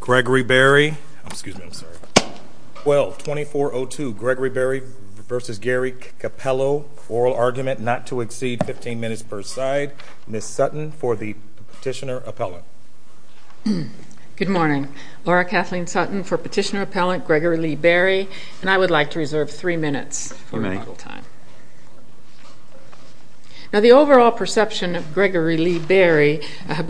Gregory Berry, excuse me, I'm sorry, 12-2402 Gregory Berry v. Gary Capello, oral argument not to exceed 15 minutes per side. Ms. Sutton for the petitioner appellant. Good morning, Laura Kathleen Sutton for petitioner appellant Gregory Lee Berry, and I would like to reserve three minutes for rebuttal time. Now the overall perception of Gregory Lee Berry, a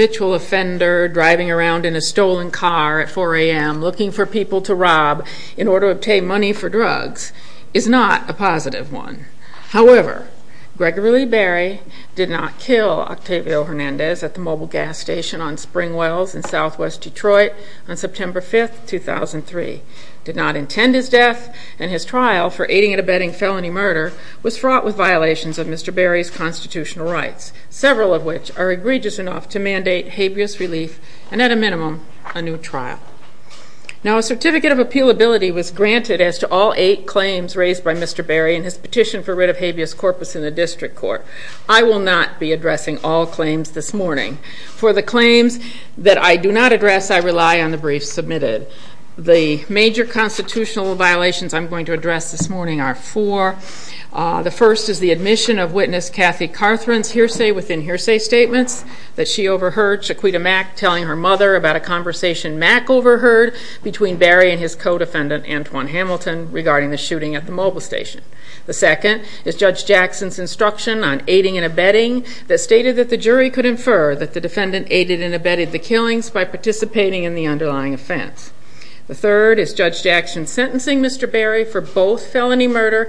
stolen car at 4 a.m. looking for people to rob in order to obtain money for drugs, is not a positive one. However, Gregory Lee Berry did not kill Octavio Hernandez at the mobile gas station on Spring Wells in southwest Detroit on September 5th, 2003, did not intend his death, and his trial for aiding and abetting felony murder was fraught with violations of Mr. Berry's constitutional rights, several of which are egregious enough to mandate habeas relief and at minimum a new trial. Now a certificate of appealability was granted as to all eight claims raised by Mr. Berry and his petition for writ of habeas corpus in the district court. I will not be addressing all claims this morning. For the claims that I do not address, I rely on the briefs submitted. The major constitutional violations I'm going to address this morning are four. The first is the admission of witness Kathy Carthren's hearsay within hearsay statements that she overheard Chiquita Mack telling her mother about a conversation Mack overheard between Berry and his co-defendant Antoine Hamilton regarding the shooting at the mobile station. The second is Judge Jackson's instruction on aiding and abetting that stated that the jury could infer that the defendant aided and abetted the killings by participating in the underlying offense. The third is Judge Jackson's sentencing Mr. Berry for both felony murder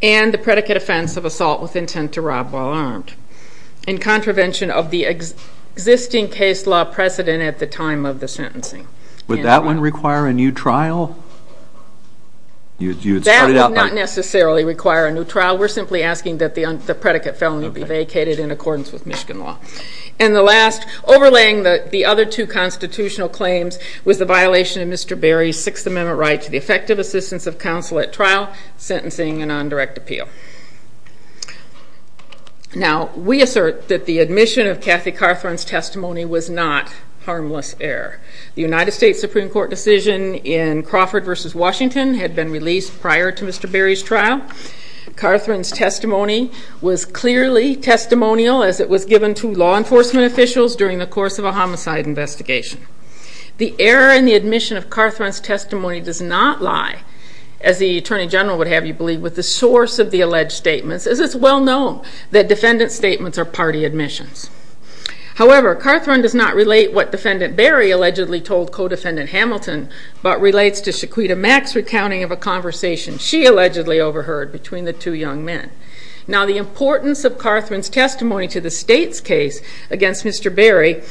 and the predicate offense of assault with intent to rob while armed, in contravention of the existing case law precedent at the time of the sentencing. Would that one require a new trial? That would not necessarily require a new trial. We're simply asking that the predicate felony be vacated in accordance with Michigan law. And the last, overlaying the other two constitutional claims, was the violation of Mr. Berry's Sixth Amendment right to the effective assistance of counsel at trial, sentencing and on direct appeal. Now, we assert that the admission of Kathy Carthren's testimony was not harmless error. The United States Supreme Court decision in Crawford versus Washington had been released prior to Mr. Berry's trial. Carthren's testimony was clearly testimonial as it was given to law enforcement officials during the course of a homicide investigation. The error in the admission of Carthren's testimony does not lie, as the Attorney General would have you believe, with the source of the alleged statements as it's well known that defendant statements are party admissions. However, Carthren does not relate what defendant Berry allegedly told co-defendant Hamilton, but relates to Shaquita Mack's recounting of a conversation she allegedly overheard between the two young men. Now, the importance of Carthren's testimony to the state's case against Mr. Berry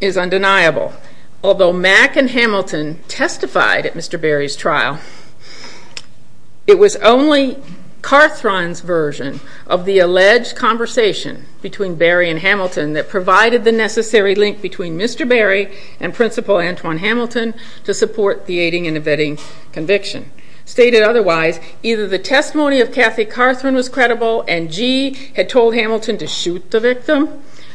is undeniable. Although Mack and Hamilton testified at Mr. Berry's trial, it was only Carthren's version of the alleged conversation between Berry and Hamilton that provided the necessary link between Mr. Berry and Principal Antwon Hamilton to support the aiding and abetting conviction. Stated otherwise, either the testimony of Kathy Carthren was credible and Gee had told Hamilton to shoot the victim,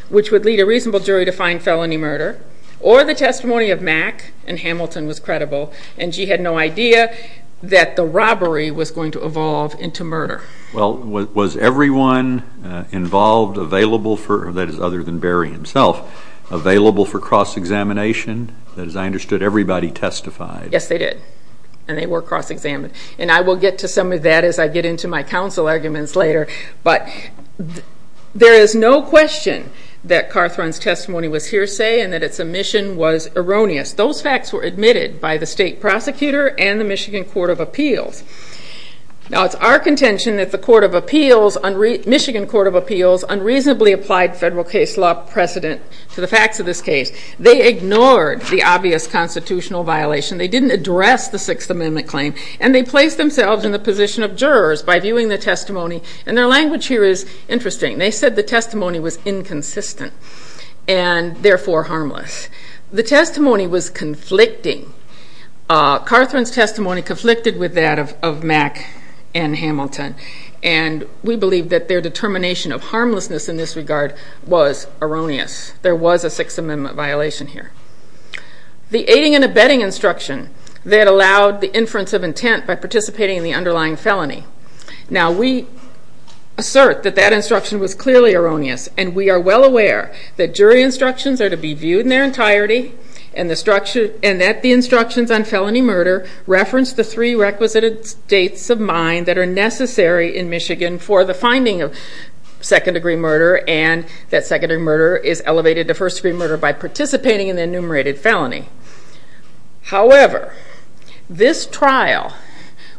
which would lead a reasonable jury to find felony murder, or the testimony of Mack and Hamilton was credible and Gee had no idea that the robbery was going to evolve into murder. Well, was everyone involved available for, that is other than Berry himself, available for cross-examination? That is, I understood everybody testified. Yes, they did, and they were cross-examined, and I will get to some of that as I get into my counsel arguments later, but there is no question that Carthren's testimony was hearsay and that its omission was erroneous. Those facts were admitted by the state prosecutor and the Michigan Court of Appeals. Now, it's our contention that the Michigan Court of Appeals unreasonably applied federal case law precedent to the facts of this case. They ignored the obvious constitutional violation, they didn't address the Sixth Amendment claim, and they placed themselves in the position of jurors by viewing the testimony, and their language here is interesting. They said the testimony was inconsistent and therefore harmless. The testimony was conflicting. Carthren's testimony conflicted with that of Mack and Hamilton, and we believe that their determination of harmlessness in this regard was erroneous. There was a Sixth Amendment violation here. The aiding and abetting instruction that allowed the jury to be viewed by participating in the underlying felony. Now, we assert that that instruction was clearly erroneous, and we are well aware that jury instructions are to be viewed in their entirety, and that the instructions on felony murder reference the three requisite dates of mine that are necessary in Michigan for the finding of second-degree murder, and that secondary murder is elevated to first-degree murder by participating in enumerated felony. However, this trial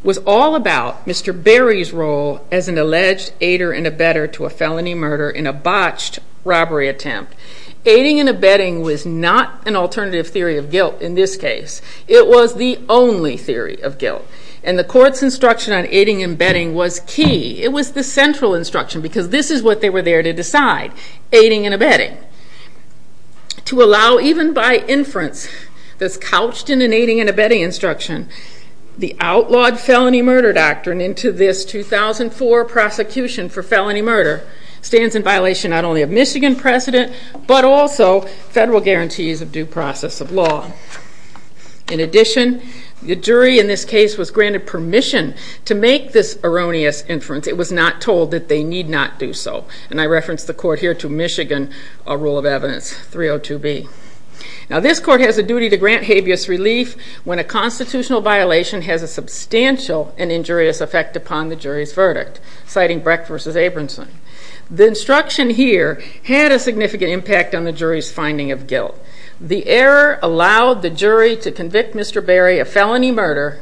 was all about Mr. Berry's role as an alleged aider and abetter to a felony murder in a botched robbery attempt. Aiding and abetting was not an alternative theory of guilt in this case. It was the only theory of guilt, and the court's instruction on aiding and betting was key. It was the central instruction, because this is what they were there to decide, aiding and abetting. To allow, even by inference that's couched in an aiding and abetting instruction, the outlawed felony murder doctrine into this 2004 prosecution for felony murder stands in violation not only of Michigan precedent, but also federal guarantees of due process of law. In addition, the jury in this case was granted permission to make this erroneous inference. It was not told that they need not do so, and I reference the court here to Michigan Rule of Evidence 302B. Now, this court has a duty to grant habeas relief when a constitutional violation has a substantial and injurious effect upon the jury's verdict, citing Brecht v. Abramson. The instruction here had a significant impact on the jury's finding of guilt. The error allowed the jury to convict Mr. Berry of felony murder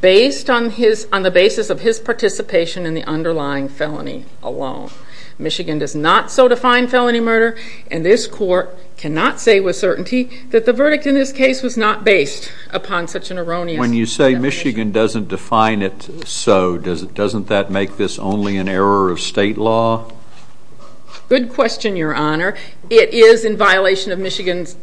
based on the basis of his participation in the underlying felony alone. Michigan does not so define felony murder, and this court cannot say with certainty that the verdict in this case was not based upon such an erroneous definition. When you say Michigan doesn't define it so, doesn't that make this only an error of state law? Good question, your honor. It is in violation of Michigan's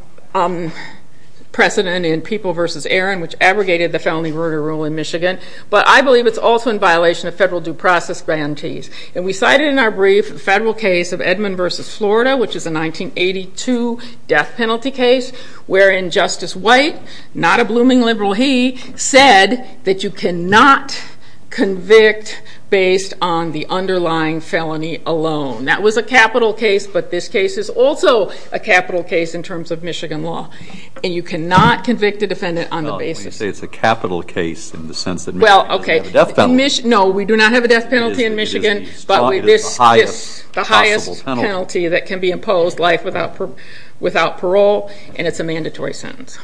precedent in People v. Aaron, which abrogated the felony murder rule in Michigan, but I believe it's also in federal due process grantees. And we cited in our brief the federal case of Edmund v. Florida, which is a 1982 death penalty case, wherein Justice White, not a blooming liberal he, said that you cannot convict based on the underlying felony alone. That was a capital case, but this case is also a capital case in terms of Michigan law, and you cannot convict a defendant on the basis of... No, we do not have a death penalty in Michigan, but this is the highest penalty that can be imposed, life without parole, and it's a mandatory sentence.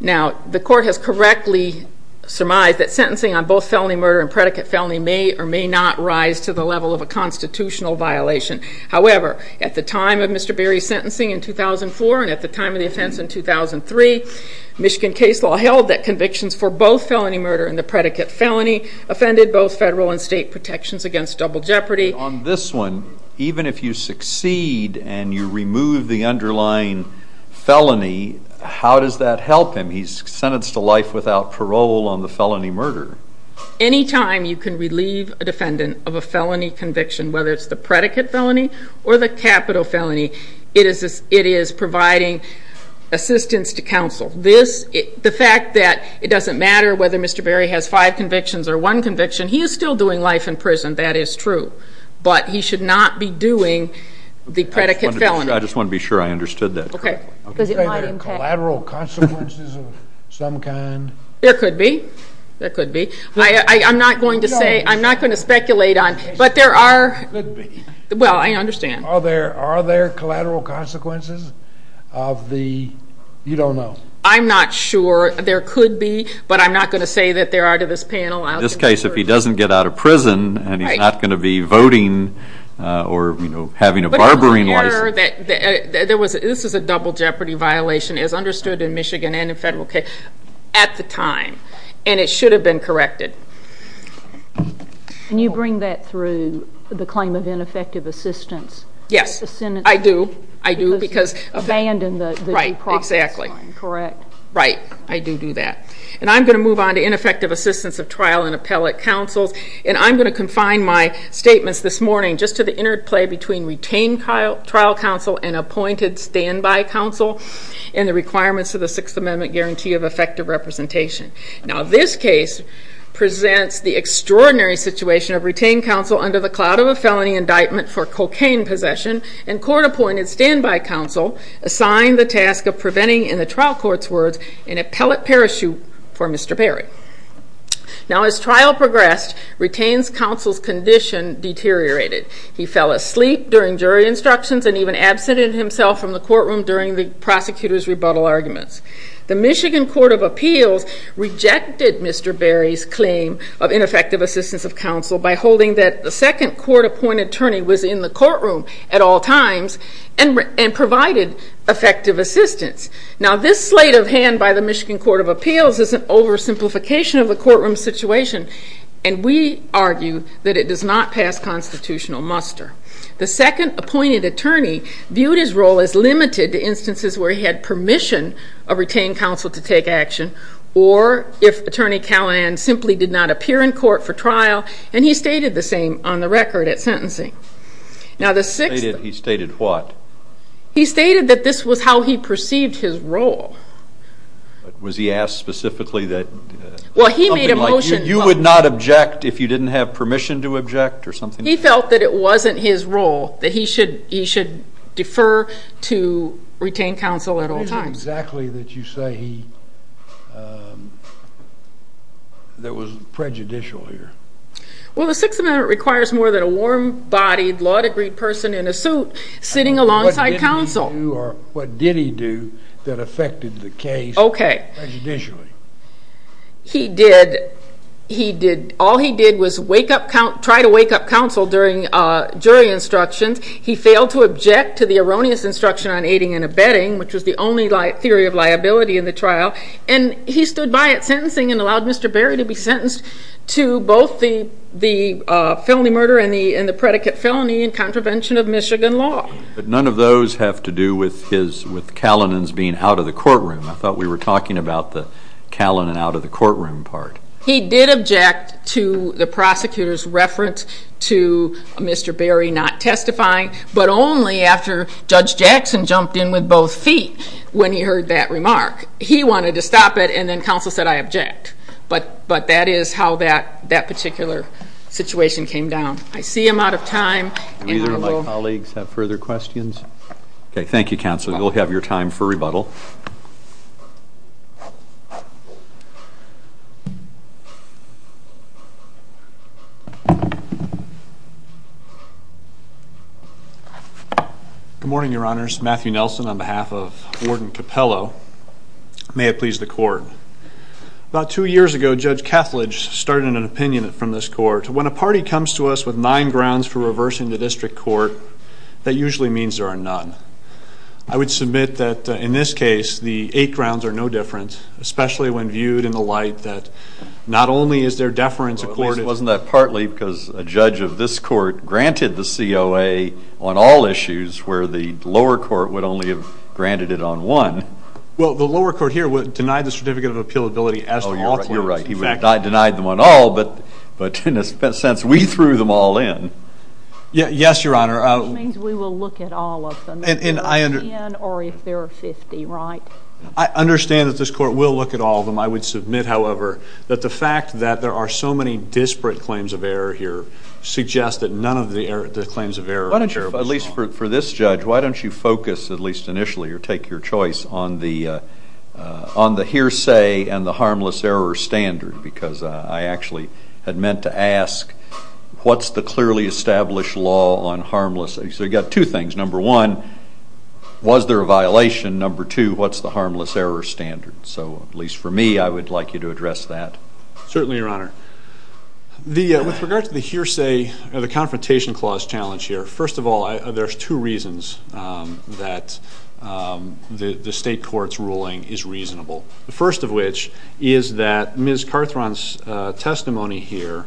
Now, the court has correctly surmised that sentencing on both felony murder and predicate felony may or may not rise to the level of a constitutional violation. However, at the time of Mr. Berry's sentencing in 2004, and at the time of the offense in 2003, Michigan case law held that convictions for both felony murder and the predicate felony offended both federal and state protections against double jeopardy. On this one, even if you succeed and you remove the underlying felony, how does that help him? He's sentenced to life without parole on the felony murder. Anytime you can relieve a defendant of a felony conviction, whether it's the predicate felony or the capital felony, it is providing assistance to counsel. The fact that it doesn't matter whether Mr. Berry has five convictions or one conviction, he is still doing life in prison, that is true, but he should not be doing the predicate felony. I just want to be sure I understood that. Okay. Does it have collateral consequences of some kind? There could be. There could be. I'm not going to say, I'm not going to speculate on, but there are... Well, I understand. Are there I'm not sure. There could be, but I'm not going to say that there are to this panel. In this case, if he doesn't get out of prison and he's not going to be voting or, you know, having a barbering license. But there was an error that there was, this is a double jeopardy violation as understood in Michigan and in federal case, at the time, and it should have been corrected. Can you bring that through the claim of ineffective assistance? Yes, I do. I do because... Abandon the process. Right, exactly. Correct. Right, I do do that. And I'm going to move on to ineffective assistance of trial and appellate counsels, and I'm going to confine my statements this morning just to the interplay between retained trial counsel and appointed standby counsel and the requirements of the Sixth Amendment guarantee of effective representation. Now, this case presents the extraordinary situation of retained counsel under the cloud of a felony indictment for cocaine possession and court-appointed standby counsel assigned the task of preventing, in the trial court's words, an appellate parachute for Mr. Berry. Now, as trial progressed, retained counsel's condition deteriorated. He fell asleep during jury instructions and even absented himself from the courtroom during the prosecutor's rebuttal arguments. The Michigan Court of Appeals rejected Mr. Berry's claim of ineffective assistance of counsel by holding that the second court-appointed attorney was in the courtroom at all times and provided effective assistance. Now, this slate of hand by the Michigan Court of Appeals is an oversimplification of the courtroom situation, and we argue that it does not pass constitutional muster. The second appointed attorney viewed his role as limited to instances where he had permission of retained counsel to take action or if Attorney Callahan simply did not appear in court for trial, and he was not heard at sentencing. Now, the sixth... He stated what? He stated that this was how he perceived his role. Was he asked specifically that... Well, he made a motion... You would not object if you didn't have permission to object or something? He felt that it wasn't his role, that he should defer to retained counsel at all times. How do you know exactly that you say he... that was prejudicial here? Well, the Sixth was a warm-bodied, law-agreed person in a suit sitting alongside counsel. What did he do that affected the case prejudicially? Okay, he did... All he did was wake up... try to wake up counsel during jury instructions. He failed to object to the erroneous instruction on aiding and abetting, which was the only theory of liability in the trial, and he stood by at sentencing and allowed Mr. Berry to be sentenced to both the felony murder and the predicate felony in contravention of Michigan law. But none of those have to do with his... with Kallinen's being out of the courtroom. I thought we were talking about the Kallinen out of the courtroom part. He did object to the prosecutor's reference to Mr. Berry not testifying, but only after Judge Jackson jumped in with both feet when he heard that remark. He wanted to stop it, and then counsel said, I object. But that is how that particular situation came down. I see I'm out of time. Do either of my colleagues have further questions? Okay, thank you counsel. You'll have your time for rebuttal. Good morning, Your Honors. Matthew Nelson on behalf of Warden Capello. May it be so. A few years ago, Judge Kethledge started an opinion from this court. When a party comes to us with nine grounds for reversing the district court, that usually means there are none. I would submit that in this case, the eight grounds are no different, especially when viewed in the light that not only is there deference accorded... Wasn't that partly because a judge of this court granted the COA on all issues, where the lower court would only have granted it on one? Well, the lower court here denied the certificate of appealability as to all claims. Oh, you're right. He would have denied them on all, but in a sense, we threw them all in. Yes, Your Honor. Which means we will look at all of them. And I... If there are 10 or if there are 50, right? I understand that this court will look at all of them. I would submit, however, that the fact that there are so many disparate claims of error here suggests that none of the claims of error... Why don't you, at least for this judge, why don't you focus, at least initially, or take your choice on the hearsay and the harmless error standard? Because I actually had meant to ask, what's the clearly established law on harmless... So you've got two things. Number one, was there a violation? Number two, what's the harmless error standard? So, at least for me, I would like you to address that. Certainly, Your Honor. With regard to the hearsay or the confrontation clause challenge here, first of all, there's two reasons that the state court's ruling is reasonable. The first of which is that Ms. Carthron's testimony here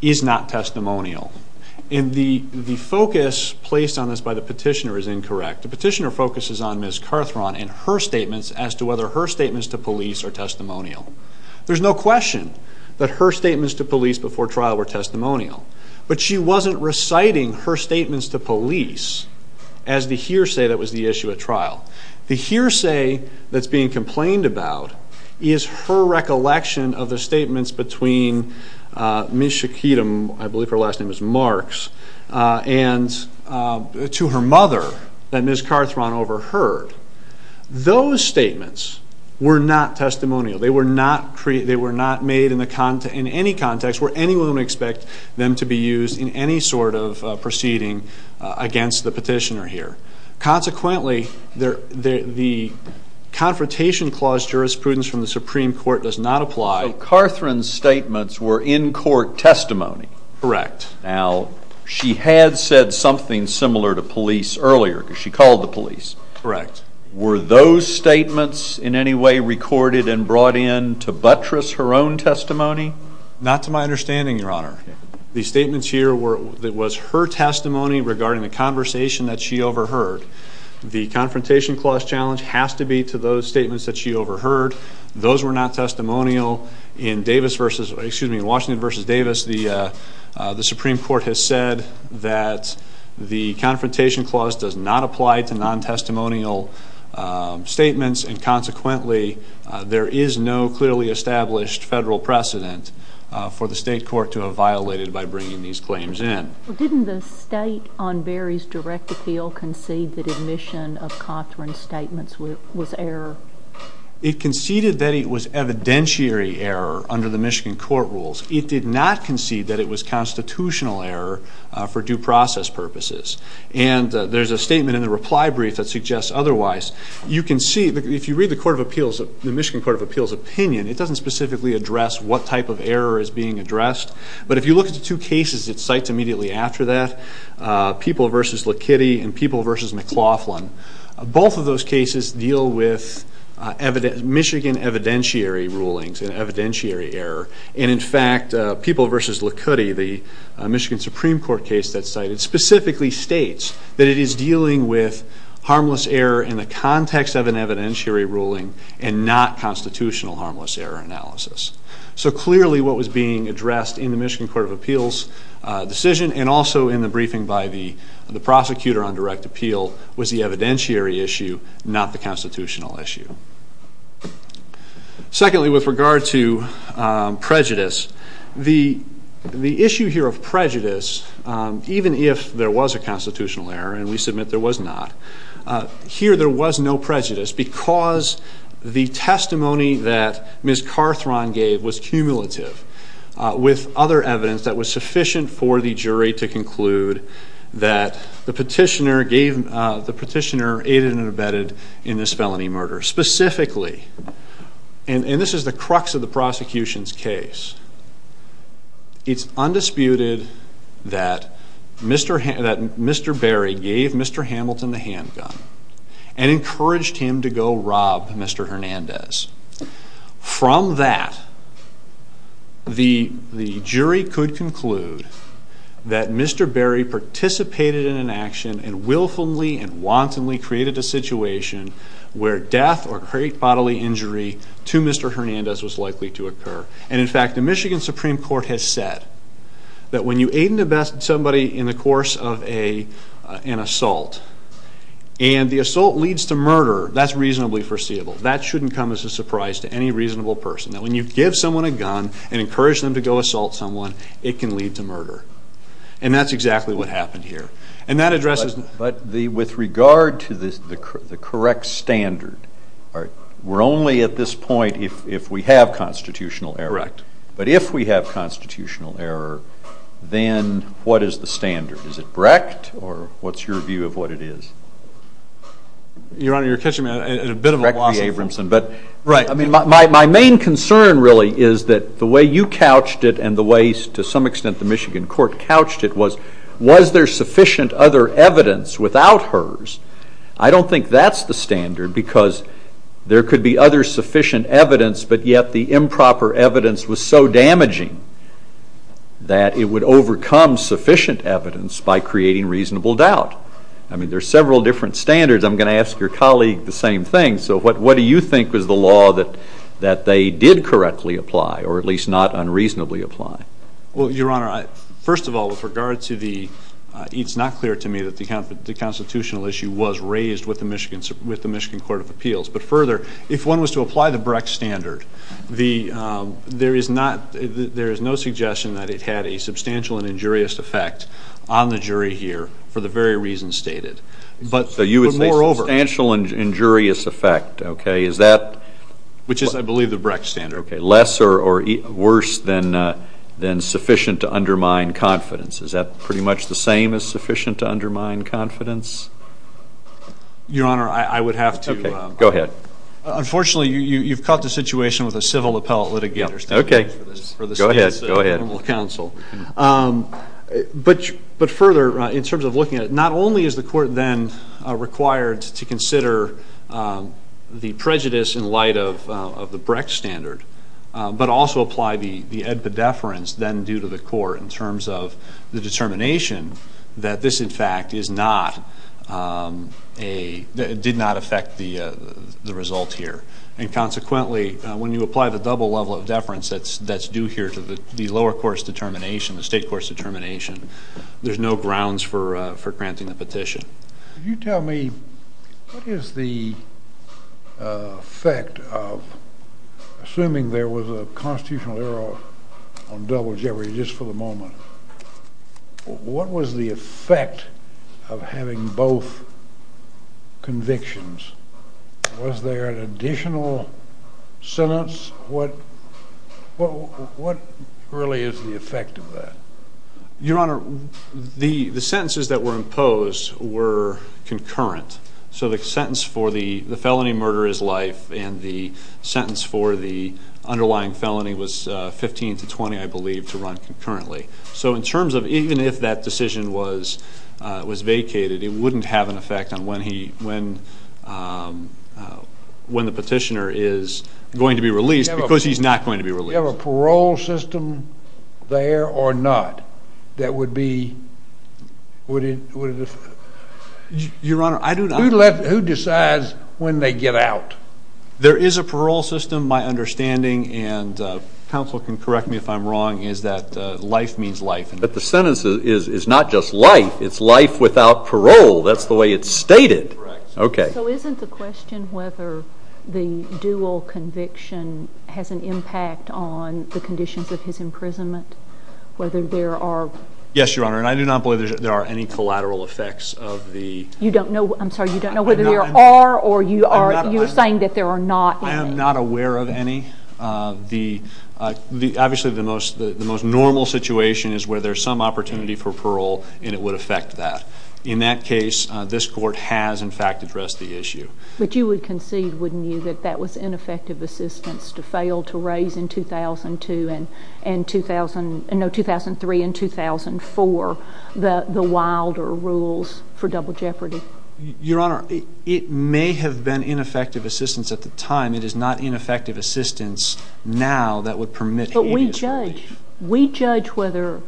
is not testimonial. And the focus placed on this by the petitioner is incorrect. The petitioner focuses on Ms. Carthron and her statements as to whether her statements to police are testimonial. There's no question that her statements to police before trial were testimonial. But she wasn't reciting her statements to police as the hearsay that was the issue at trial. The hearsay that's being complained about is her recollection of the statements between Ms. Shaquitum, I believe her last name is Marks, and to her mother that Ms. Carthron overheard. Those statements were not testimonial. They were not made in any context where anyone would expect them to be used in any sort of proceeding against the petitioner here. Consequently, the confrontation clause jurisprudence from the Supreme Court does not apply. So, Carthron's statements were in court testimony. Correct. Now, she had said something similar to police earlier because she called the police. Correct. Were those statements in any way recorded and brought in to buttress her own testimony? Not to my understanding, Your Honor. The statements here was her testimony regarding the conversation that she overheard. The confrontation clause challenge has to be to those statements that she overheard. Those were not testimonial. In Washington v. Davis, the Supreme Court has said that the confrontation clause does not apply to non-testimonial statements, and consequently there is no clearly established federal precedent for the state court to have violated by bringing these claims in. Didn't the state on Barry's direct appeal concede that admission of Carthron's statements was error? It conceded that it was evidentiary error under the Michigan court rules. It did not concede that it was constitutional error for due process purposes. And there's a statement in the reply brief that suggests otherwise. You can see, if you read the Michigan Court of Appeals opinion, it doesn't specifically address what type of error is being addressed. But if you look at the two cases it cites immediately after that, People v. Likitty and People v. McLaughlin, both of those cases deal with Michigan evidentiary rulings and evidentiary error. And, in fact, People v. Likitty, the Michigan Supreme Court case that's cited, specifically states that it is dealing with harmless error in the context of an evidentiary ruling and not constitutional harmless error analysis. So clearly what was being addressed in the Michigan Court of Appeals decision and also in the briefing by the prosecutor on direct appeal was the evidentiary issue, not the constitutional issue. Secondly, with regard to prejudice, the issue here of prejudice, even if there was a constitutional error, and we submit there was not, here there was no prejudice because the testimony that Ms. Carthron gave was cumulative with other evidence that was sufficient for the jury to conclude that the petitioner aided and abetted in this felony murder. Specifically, and this is the crux of the prosecution's case, it's undisputed that Mr. Berry gave Mr. Hamilton the handgun and encouraged him to go rob Mr. Hernandez. From that, the jury could conclude that Mr. Berry participated in an action and willfully and wantonly created a situation where death or great bodily injury to Mr. Hernandez was likely to occur. And, in fact, the Michigan Supreme Court has said that when you aid and abet somebody in the course of an assault and the assault leads to murder, that's reasonably foreseeable. That shouldn't come as a surprise to any reasonable person, that when you give someone a gun and encourage them to go assault someone, it can lead to murder. And that's exactly what happened here. But with regard to the correct standard, we're only at this point if we have constitutional error. Correct. But if we have constitutional error, then what is the standard? Is it Brecht or what's your view of what it is? Your Honor, you're catching me at a bit of a loss. Brecht v. Abramson. Right. My main concern, really, is that the way you couched it and the way, to some extent, the Michigan court couched it was, was there sufficient other evidence without hers? I don't think that's the standard because there could be other sufficient evidence, but yet the improper evidence was so damaging that it would overcome sufficient evidence by creating reasonable doubt. I mean, there are several different standards. I'm going to ask your colleague the same thing. So what do you think was the law that they did correctly apply, or at least not unreasonably apply? Well, Your Honor, first of all, with regard to the, it's not clear to me that the constitutional issue was raised with the Michigan Court of Appeals. But further, if one was to apply the Brecht standard, the, there is not, there is no suggestion that it had a substantial and injurious effect on the jury here for the very reasons stated. But moreover. So you would say substantial and injurious effect, okay. Is that. Which is, I believe, the Brecht standard. Okay. Less or worse than sufficient to undermine confidence. Is that pretty much the same as sufficient to undermine confidence? Your Honor, I would have to. Okay. Go ahead. Unfortunately, you've caught the situation with a civil appellate litigator. Okay. Go ahead. Go ahead. But further, in terms of looking at it, not only is the court then required to consider the prejudice in light of the Brecht standard, but also apply the edpedeference then due to the court in terms of the determination that this, in fact, is not a, did not affect the result here. And consequently, when you apply the double level of deference that's due here to the lower court's determination, the state court's determination, there's no grounds for granting the petition. Could you tell me what is the effect of, assuming there was a constitutional error on double jeopardy just for the moment, what was the effect of having both convictions? Was there an additional sentence? What really is the effect of that? Your Honor, the sentences that were imposed were concurrent. So the sentence for the felony murder is life and the sentence for the underlying felony was 15 to 20, I believe, to run concurrently. So in terms of even if that decision was vacated, it wouldn't have an effect on when the petitioner is going to be released because he's not going to be released. Do we have a parole system there or not that would be, would it, Your Honor, I do not. Who decides when they get out? There is a parole system, my understanding, and counsel can correct me if I'm wrong, is that life means life. But the sentence is not just life, it's life without parole. That's the way it's stated. So isn't the question whether the dual conviction has an impact on the conditions of his imprisonment, whether there are... Yes, Your Honor, and I do not believe there are any collateral effects of the... You don't know, I'm sorry, you don't know whether there are or you are saying that there are not. I am not aware of any. Obviously the most normal situation is where there's some opportunity for parole and it would affect that. In that case, this court has, in fact, addressed the issue. But you would concede, wouldn't you, that that was ineffective assistance to fail to raise in 2002 and, no, 2003 and 2004, the wilder rules for double jeopardy. Your Honor, it may have been ineffective assistance at the time. It is not ineffective assistance now that would permit... But we judge. We judge whether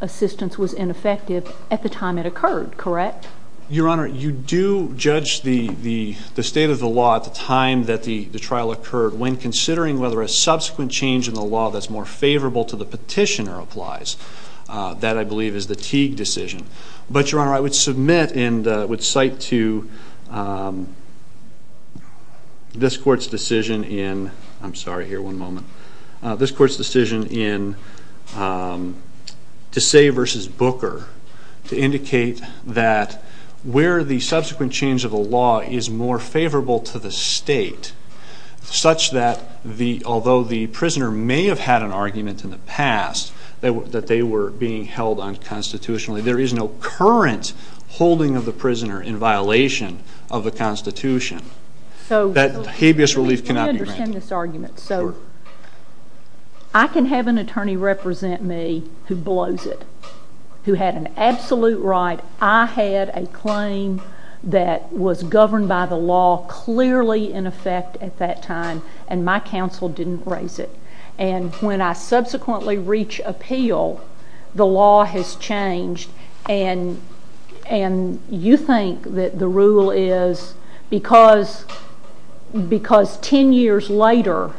assistance was ineffective at the time it occurred, correct? Your Honor, you do judge the state of the law at the time that the trial occurred when considering whether a subsequent change in the law that's more favorable to the petitioner applies. That, I believe, is the Teague decision. But, Your Honor, I would submit and would cite to this court's decision in... to say versus Booker to indicate that where the subsequent change of the law is more favorable to the state, such that although the prisoner may have had an argument in the past that they were being held unconstitutionally, there is no current holding of the prisoner in violation of the Constitution, that habeas relief cannot be granted. Let me understand this argument. So, I can have an attorney represent me who blows it, who had an absolute right. I had a claim that was governed by the law clearly in effect at that time, and my counsel didn't raise it. And when I subsequently reach appeal, the law has changed. And you think that the rule is because ten years later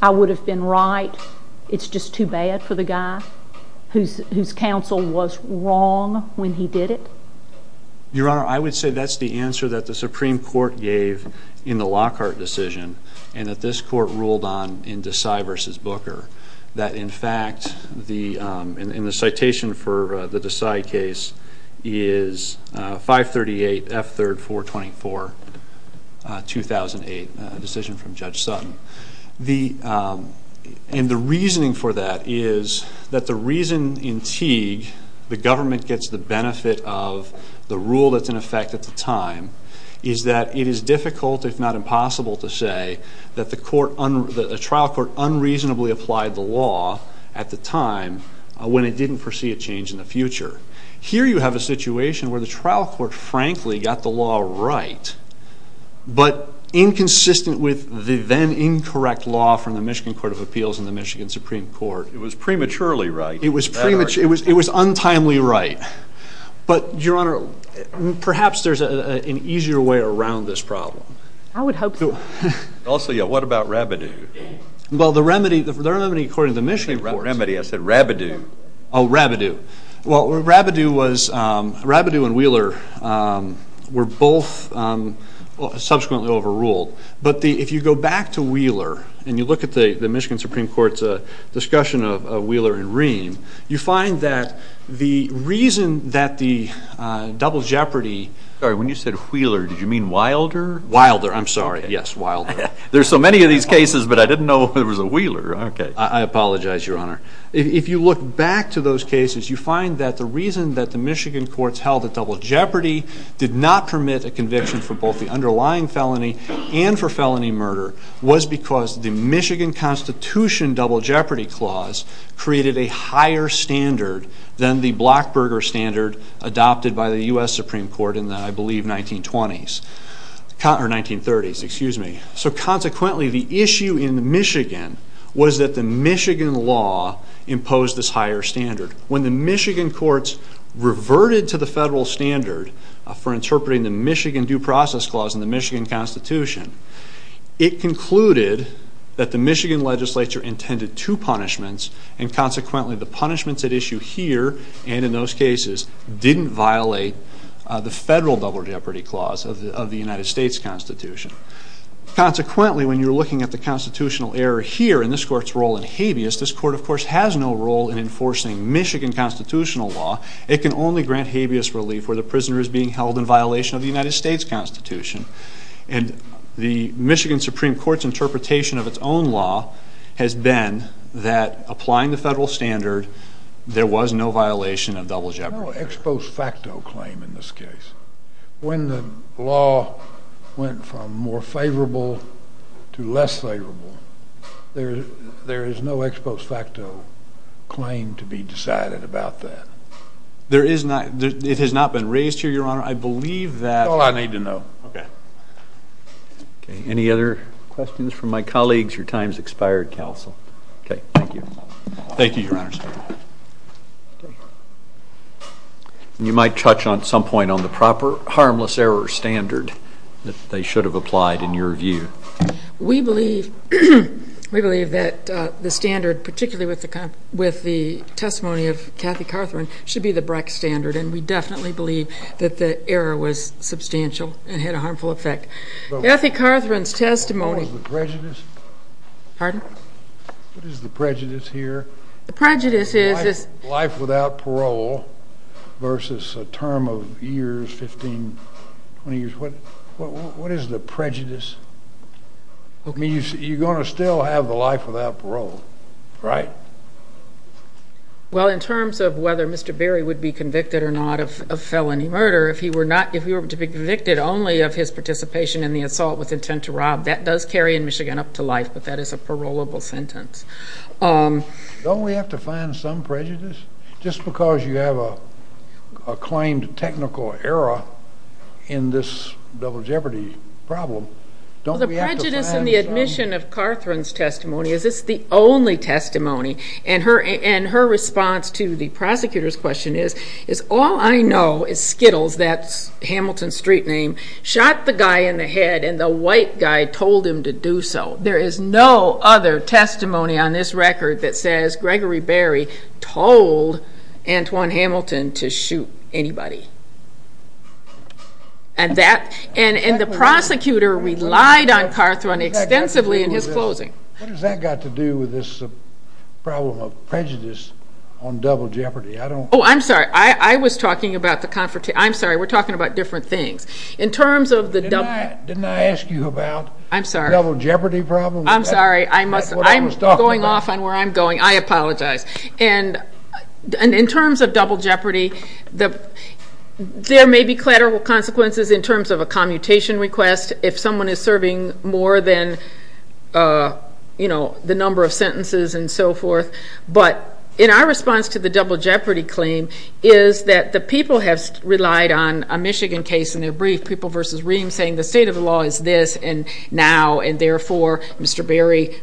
I would have been right, it's just too bad for the guy whose counsel was wrong when he did it? Your Honor, I would say that's the answer that the Supreme Court gave in the Lockhart decision and that this court ruled on in Desai versus Booker. That, in fact, in the citation for the Desai case is 538 F. 3rd 424, 2008 decision from Judge Sutton. And the reasoning for that is that the reason in Teague the government gets the benefit of the rule that's in effect at the time is that it is difficult, if not impossible, to say that the trial court unreasonably applied the law at the time when it didn't foresee a change in the future. Here you have a situation where the trial court, frankly, got the law right, but inconsistent with the then incorrect law from the Michigan Court of Appeals and the Michigan Supreme Court. It was prematurely right. It was untimely right. But, Your Honor, perhaps there's an easier way around this problem. I would hope so. Also, yeah, what about Rabideau? Well, the remedy, the remedy according to the Michigan Court. I didn't say remedy, I said Rabideau. Oh, Rabideau. Well, Rabideau was, Rabideau and Wheeler were both subsequently overruled. But if you go back to Wheeler and you look at the Michigan Supreme Court's discussion of Wheeler and Ream, you find that the reason that the double jeopardy. Sorry, when you said Wheeler, did you mean Wilder? Wilder, I'm sorry. Yes, Wilder. There's so many of these cases, but I didn't know there was a Wheeler. Okay. I apologize, Your Honor. If you look back to those cases, you find that the reason that the Michigan courts held that double jeopardy did not permit a conviction for both the underlying felony and for felony murder was because the Michigan Constitution double jeopardy clause created a higher standard than the Blockberger standard adopted by the U.S. Supreme Court in the, I believe, 1920s. Or 1930s, excuse me. So consequently, the issue in Michigan was that the Michigan law imposed this higher standard. When the Michigan courts reverted to the federal standard for interpreting the Michigan Due Process Clause in the Michigan Constitution, it concluded that the Michigan legislature intended two punishments, and consequently the punishments at issue here and in those cases didn't violate the federal double jeopardy clause of the United States Constitution. Consequently, when you're looking at the constitutional error here in this court's role in habeas, this court, of course, has no role in enforcing Michigan constitutional law. It can only grant habeas relief where the prisoner is being held in violation of the United States Constitution. And the Michigan Supreme Court's interpretation of its own law has been that applying the federal standard, there was no violation of double jeopardy. General ex post facto claim in this case. When the law went from more favorable to less favorable, there is no ex post facto claim to be decided about that. There is not. It has not been raised here, Your Honor. I believe that. That's all I need to know. Okay. Any other questions from my colleagues? Your time has expired, counsel. Okay, thank you. Thank you, Your Honor. You might touch on some point on the proper harmless error standard that they should have applied in your view. We believe that the standard, particularly with the testimony of Kathy Carthren, should be the BRAC standard, and we definitely believe that the error was substantial and had a harmful effect. Kathy Carthren's testimony. What was the prejudice? Pardon? What is the prejudice here? The prejudice is this. Life without parole versus a term of years, 15, 20 years. What is the prejudice? You're going to still have the life without parole. Right. Well, in terms of whether Mr. Berry would be convicted or not of felony murder, if he were to be convicted only of his participation in the assault with intent to rob, that does carry in Michigan up to life, but that is a parolable sentence. Don't we have to find some prejudice? Just because you have a claimed technical error in this double jeopardy problem, don't we have to find some? The prejudice in the admission of Carthren's testimony is it's the only testimony, and her response to the prosecutor's question is, all I know is Skittles, that's Hamilton's street name, shot the guy in the head, and the white guy told him to do so. There is no other testimony on this record that says Gregory Berry told Antoine Hamilton to shoot anybody. And the prosecutor relied on Carthren extensively in his closing. What has that got to do with this problem of prejudice on double jeopardy? Oh, I'm sorry. I was talking about the confrontation. I'm sorry, we're talking about different things. Didn't I ask you about double jeopardy problems? I'm sorry. I'm going off on where I'm going. I apologize. And in terms of double jeopardy, there may be collateral consequences in terms of a commutation request if someone is serving more than the number of sentences and so forth, but in our response to the double jeopardy claim is that the people have relied on a Michigan case in their brief, People v. Reams, saying the state of the law is this and now, and therefore, Mr. Berry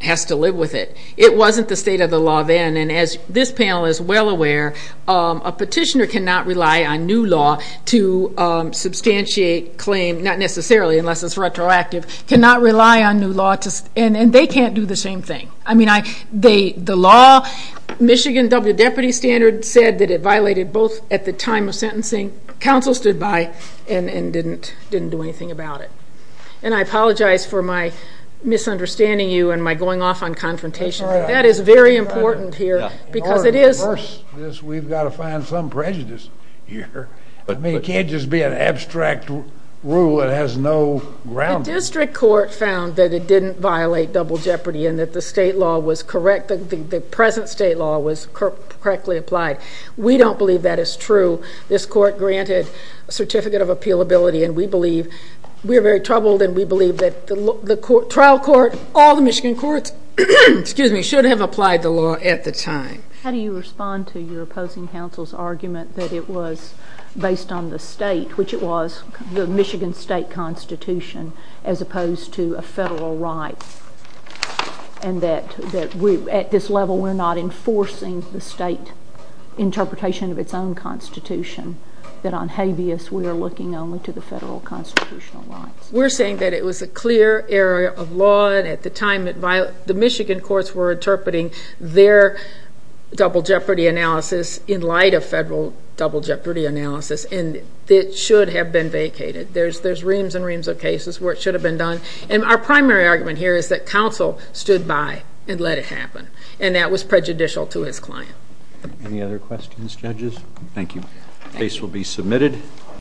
has to live with it. It wasn't the state of the law then, and as this panel is well aware, a petitioner cannot rely on new law to substantiate claim, not necessarily unless it's retroactive, cannot rely on new law, and they can't do the same thing. I mean, the law, Michigan double jeopardy standard said that it violated both at the time of sentencing, counsel stood by and didn't do anything about it. And I apologize for my misunderstanding you and my going off on confrontation. That is very important here because it is. We've got to find some prejudice here. I mean, it can't just be an abstract rule that has no grounding. The district court found that it didn't violate double jeopardy and that the state law was correct, the present state law was correctly applied. We don't believe that is true. This court granted a certificate of appealability, and we believe, we are very troubled, and we believe that the trial court, all the Michigan courts, should have applied the law at the time. How do you respond to your opposing counsel's argument that it was based on the state, which it was, the Michigan state constitution, as opposed to a federal right, and that at this level we're not enforcing the state interpretation of its own constitution, that on habeas we are looking only to the federal constitutional rights? We're saying that it was a clear error of law, and at the time, the Michigan courts were interpreting their double jeopardy analysis in light of federal double jeopardy analysis, and it should have been vacated. There's reams and reams of cases where it should have been done, and our primary argument here is that counsel stood by and let it happen, and that was prejudicial to his client. Any other questions, judges? Thank you. The case will be submitted.